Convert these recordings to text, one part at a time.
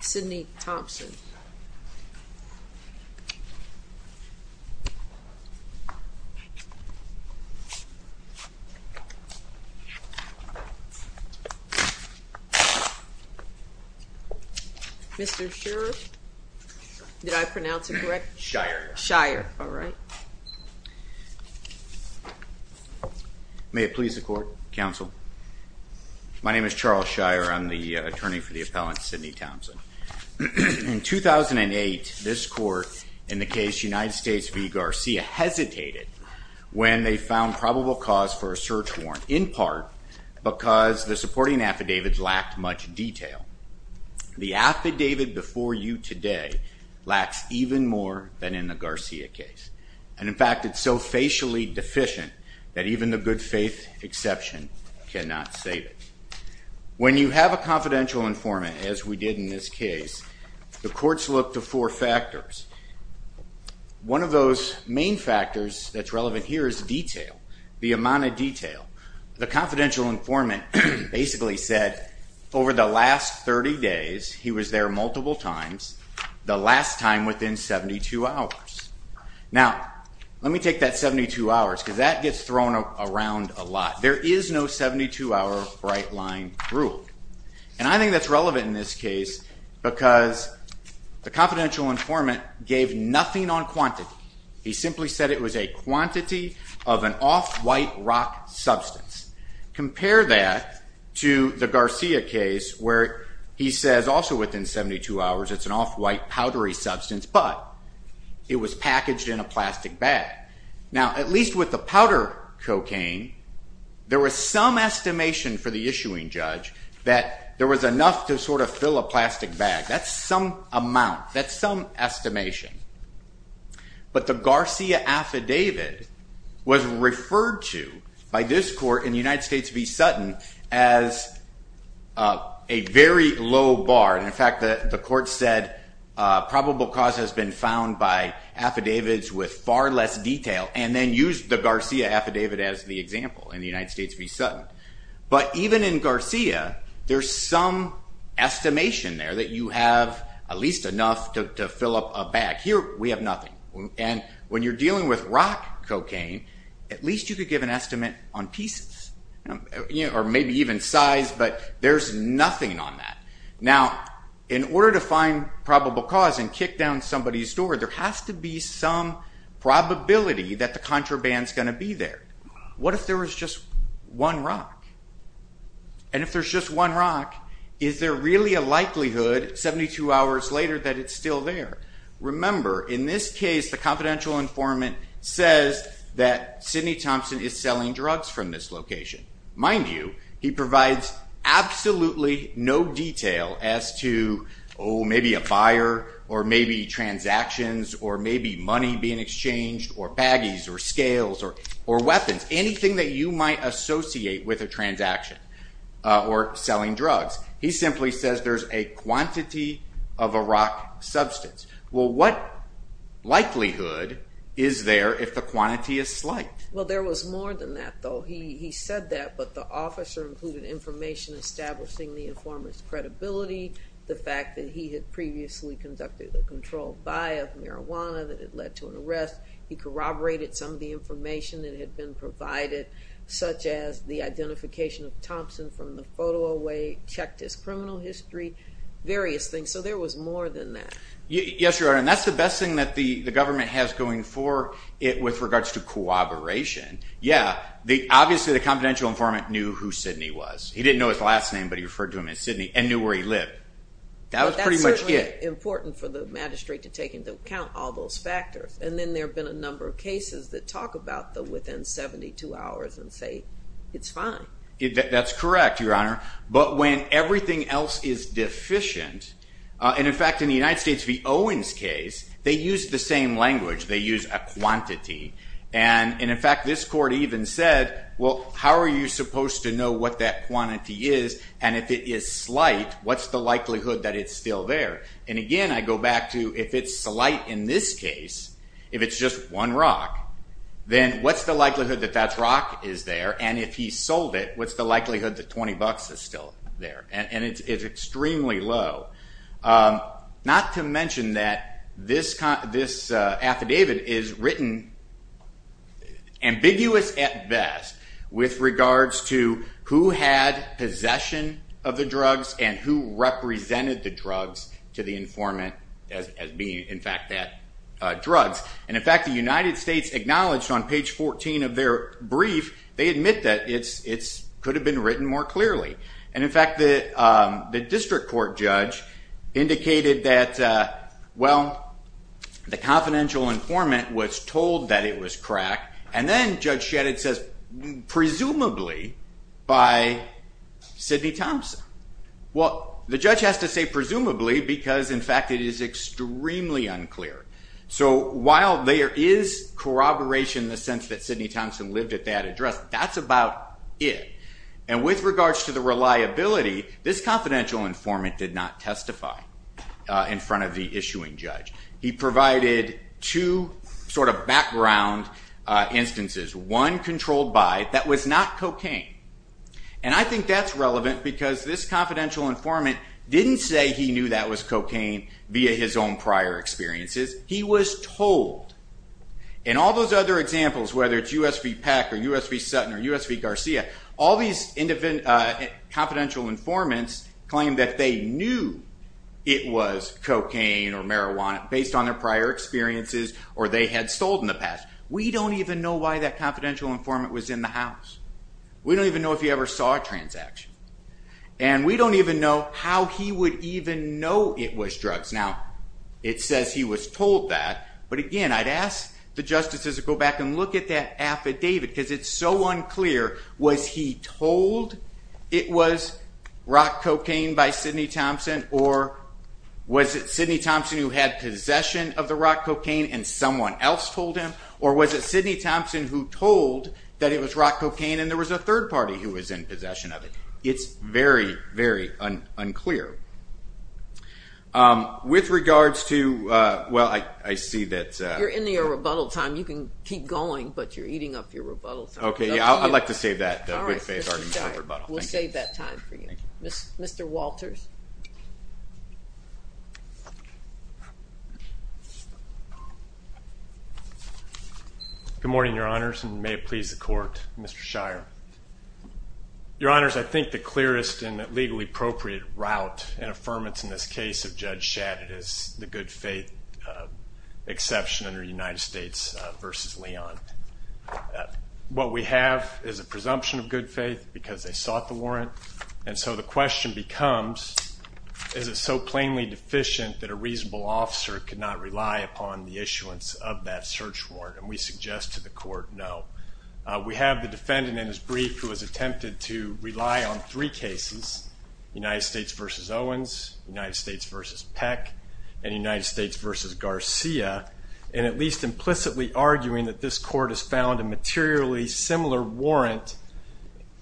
Sidney Thompson Mr.. Sure did I pronounce it correct Shire Shire all right? May it please the court counsel My name is Charles Shire. I'm the attorney for the appellant Sidney Thompson In 2008 this court in the case United States v. Garcia Hesitated when they found probable cause for a search warrant in part because the supporting affidavits lacked much detail The affidavit before you today lacks even more than in the Garcia case and in fact It's so facially deficient that even the good faith exception cannot save it When you have a confidential informant as we did in this case the courts look to four factors One of those main factors that's relevant here is detail the amount of detail the confidential informant Basically said over the last 30 days. He was there multiple times the last time within 72 hours Now let me take that 72 hours because that gets thrown around a lot There is no 72 hour bright line rule, and I think that's relevant in this case because The confidential informant gave nothing on quantity. He simply said it was a quantity of an off-white rock Substance compare that to the Garcia case where he says also within 72 hours It's an off-white powdery substance, but it was packaged in a plastic bag now at least with the powder Cocaine There was some estimation for the issuing judge that there was enough to sort of fill a plastic bag That's some amount. That's some estimation but the Garcia affidavit was referred to by this court in the United States v. Sutton as a very low bar and in fact that the court said probable cause has been found by Detail and then used the Garcia affidavit as the example in the United States v. Sutton, but even in Garcia. There's some Estimation there that you have at least enough to fill up a bag here We have nothing and when you're dealing with rock cocaine at least you could give an estimate on pieces You know or maybe even size, but there's nothing on that now in order to find probable cause and kick down somebody's door There has to be some Probability that the contraband is going to be there. What if there was just one rock and If there's just one rock is there really a likelihood 72 hours later that it's still there Remember in this case the confidential informant says that Sidney Thompson is selling drugs from this location mind you he provides Absolutely, no detail as to oh, maybe a buyer or maybe Transactions or maybe money being exchanged or baggies or scales or or weapons anything that you might associate with a transaction Or selling drugs. He simply says there's a quantity of a rock substance. Well, what? Likelihood is there if the quantity is slight? Well, there was more than that though He said that but the officer included information Establishing the informant's credibility The fact that he had previously conducted the controlled buy of marijuana that had led to an arrest He corroborated some of the information that had been provided Such as the identification of Thompson from the photo away checked his criminal history Various things so there was more than that Yes, your honor and that's the best thing that the the government has going for it with regards to cooperation Yeah, the obviously the confidential informant knew who Sidney was he didn't know his last name But he referred to him as Sidney and knew where he lived That was pretty much important for the magistrate to take into account all those factors And then there have been a number of cases that talk about them within 72 hours and say it's fine That's correct. Your honor, but when everything else is deficient And in fact in the United States the Owens case they use the same language They use a quantity and and in fact this court even said well How are you supposed to know what that quantity is and if it is slight? What's the likelihood that it's still there and again? I go back to if it's slight in this case if it's just one rock Then what's the likelihood that that's rock is there and if he sold it? What's the likelihood that 20 bucks is still there and it's extremely low Not to mention that this kind of this affidavit is written Ambiguous at best with regards to who had possession of the drugs and who Represented the drugs to the informant as being in fact that Drugs and in fact the United States acknowledged on page 14 of their brief They admit that it's it's could have been written more clearly and in fact the the district court judge indicated that well The confidential informant was told that it was crack, and then judge shed it says presumably by Sidney Thompson Well the judge has to say presumably because in fact it is extremely unclear so while there is Corroboration the sense that Sidney Thompson lived at that address That's about it and with regards to the reliability this confidential informant did not testify In front of the issuing judge he provided two sort of background Instances one controlled by that was not cocaine And I think that's relevant because this confidential informant didn't say he knew that was cocaine via his own prior experiences he was told in USP Garcia all these independent Confidential informants claim that they knew it was cocaine or marijuana based on their prior Experiences or they had sold in the past. We don't even know why that confidential informant was in the house We don't even know if he ever saw a transaction And we don't even know how he would even know it was drugs now It says he was told that but again I'd ask the justices to go back and look at that affidavit because it's so unclear was he told it was rock cocaine by Sidney Thompson or Was it Sidney Thompson who had possession of the rock cocaine and someone else told him or was it Sidney Thompson who told? That it was rock cocaine, and there was a third party who was in possession of it. It's very very unclear With regards to well, I see that you're in the a rebuttal time you can keep going, but you're eating up your rebuttals, okay? Yeah, I'd like to save that Mr.. Walters Good morning your honors and may it please the court mr.. Shire Your honors, I think the clearest and legally appropriate route and affirmance in this case of judge shattered is the good-faith exception under United States versus Leon What we have is a presumption of good faith because they sought the warrant and so the question becomes Is it so plainly deficient that a reasonable officer could not rely upon the issuance of that search warrant and we suggest to the court no We have the defendant in his brief who has attempted to rely on three cases United States versus Owens United States versus Peck and United States versus Garcia And at least implicitly arguing that this court has found a materially similar warrant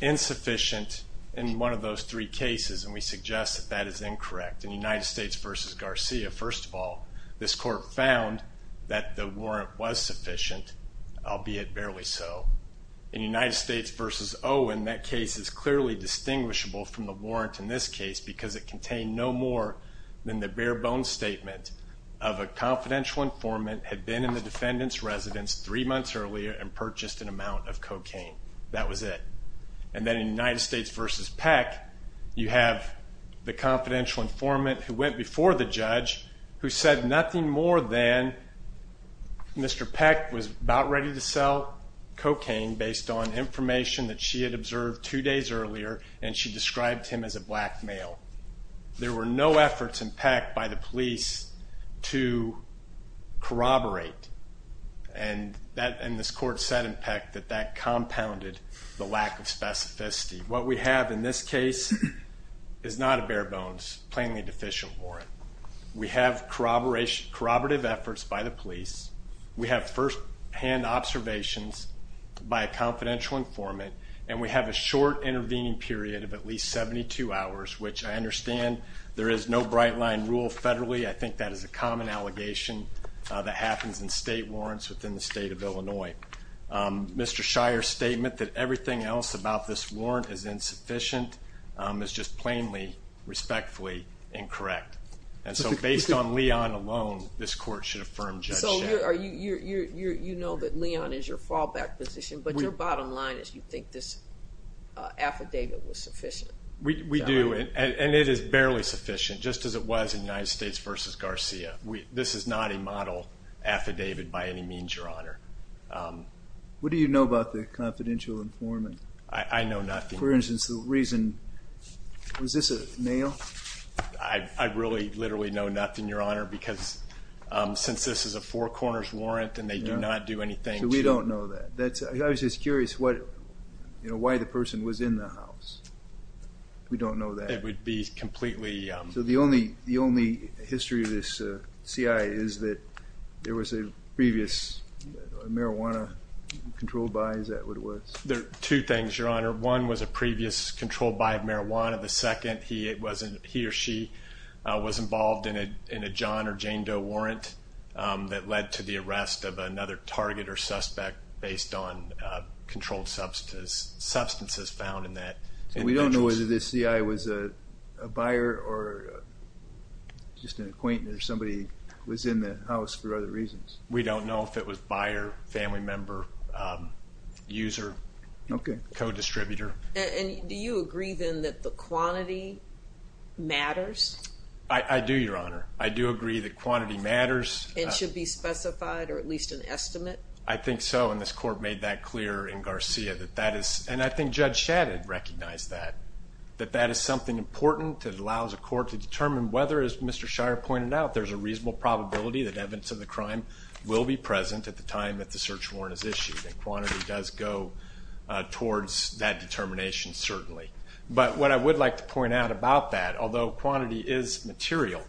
Insufficient in one of those three cases and we suggest that that is incorrect in the United States versus Garcia first of all this court Found that the warrant was sufficient I'll be it barely so in United States versus Oh in that case is clearly distinguishable from the warrant in this case because it contained no more than the bare-bones statement of a Confidential informant had been in the defendants residence three months earlier and purchased an amount of cocaine That was it and then in United States versus Peck You have the confidential informant who went before the judge who said nothing more than Mr. Peck was about ready to sell Cocaine based on information that she had observed two days earlier and she described him as a black male There were no efforts in Peck by the police to Corroborate and That and this court said in Peck that that compounded the lack of specificity what we have in this case Is not a bare-bones plainly deficient warrant. We have corroboration corroborative efforts by the police We have first-hand observations By a confidential informant and we have a short intervening period of at least 72 hours Which I understand there is no bright line rule federally. I think that is a common allegation That happens in state warrants within the state of Illinois Mr. Shire statement that everything else about this warrant is insufficient is just plainly Respectfully incorrect and so based on Leon alone. This court should affirm So are you you're you know that Leon is your fallback position, but your bottom line is you think this? Affidavit was sufficient. We do and it is barely sufficient just as it was in United States versus Garcia We this is not a model Affidavit by any means your honor What do you know about the confidential informant? I know nothing for instance the reason Was this a nail? I? really literally know nothing your honor because Since this is a four corners warrant, and they do not do anything. We don't know that that's I was just curious what? You know why the person was in the house? We don't know that it would be completely so the only the only history of this CI is that there was a previous? Marijuana Controlled by is that what it was there two things your honor one was a previous controlled by marijuana the second he it wasn't he or She was involved in a in a John or Jane Doe warrant That led to the arrest of another target or suspect based on controlled substance substances found in that and we don't know whether this CI was a buyer or Just an acquaintance somebody was in the house for other reasons. We don't know if it was buyer family member user Okay, co-distributor, and do you agree then that the quantity? Matters I I do your honor. I do agree that quantity matters. It should be specified or at least an estimate I think so in this court made that clear in Garcia that that is and I think judge shattered recognized that That that is something important that allows a court to determine whether as mr. Shire pointed out there's a reasonable probability that evidence of the crime will be present at the time that the search warrant is issued and quantity Does go? Towards that determination certainly, but what I would like to point out about that although quantity is material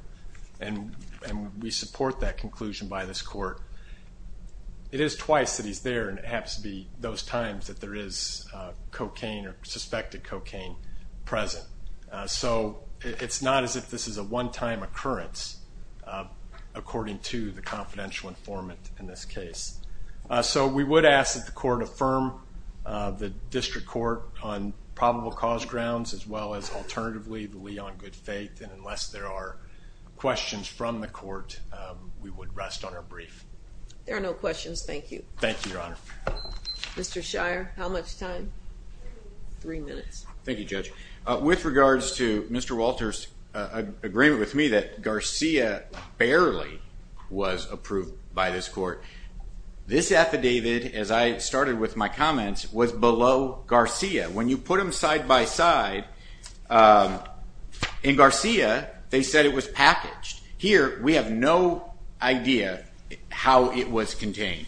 and And we support that conclusion by this court It is twice that he's there and it happens to be those times that there is Cocaine or suspected cocaine present, so it's not as if this is a one-time occurrence According to the confidential informant in this case So we would ask that the court affirm The district court on probable cause grounds as well as alternatively the lee on good faith and unless there are Questions from the court we would rest on our brief. There are no questions. Thank you. Thank you your honor Mr. Shire how much time? Three minutes Thank You judge with regards to mr. Walters Agreement with me that Garcia barely was approved by this court This affidavit as I started with my comments was below Garcia when you put them side-by-side In Garcia they said it was packaged here we have no idea How it was contained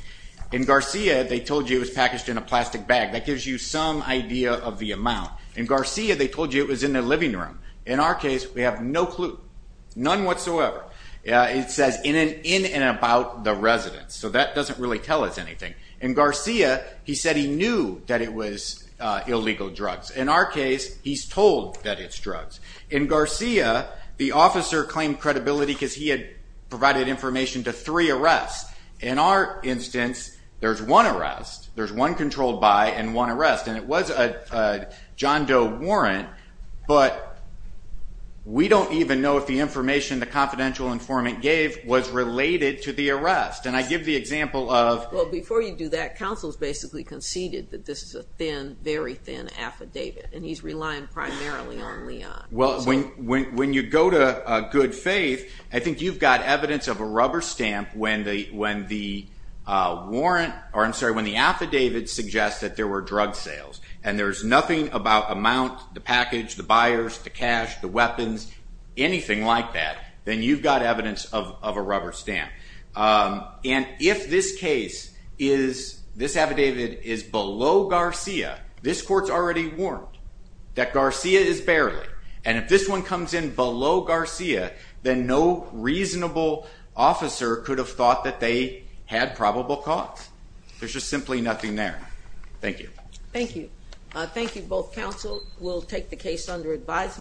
in Garcia They told you it was packaged in a plastic bag that gives you some idea of the amount in Garcia They told you it was in the living room in our case. We have no clue none whatsoever It says in an in and about the residence so that doesn't really tell us anything in Garcia He said he knew that it was Illegal drugs in our case. He's told that it's drugs in Garcia The officer claimed credibility because he had provided information to three arrests in our instance There's one arrest. There's one controlled by and one arrest and it was a John Doe warrant, but We don't even know if the information the confidential informant gave was related to the arrest and I give the example of well before you Do that counsel's basically conceded that this is a thin very thin affidavit and he's relying primarily on me well, when when you go to a good faith, I think you've got evidence of a rubber stamp when they when the Warrant or I'm sorry when the affidavit suggests that there were drug sales and there's nothing about amount the package the buyers to cash The weapons anything like that then you've got evidence of a rubber stamp and if this case is This affidavit is below Garcia This court's already warned that Garcia is barely and if this one comes in below Garcia, then no Reasonable officer could have thought that they had probable cause there's just simply nothing there. Thank you Thank you. Thank you both counsel. We'll take the case under advise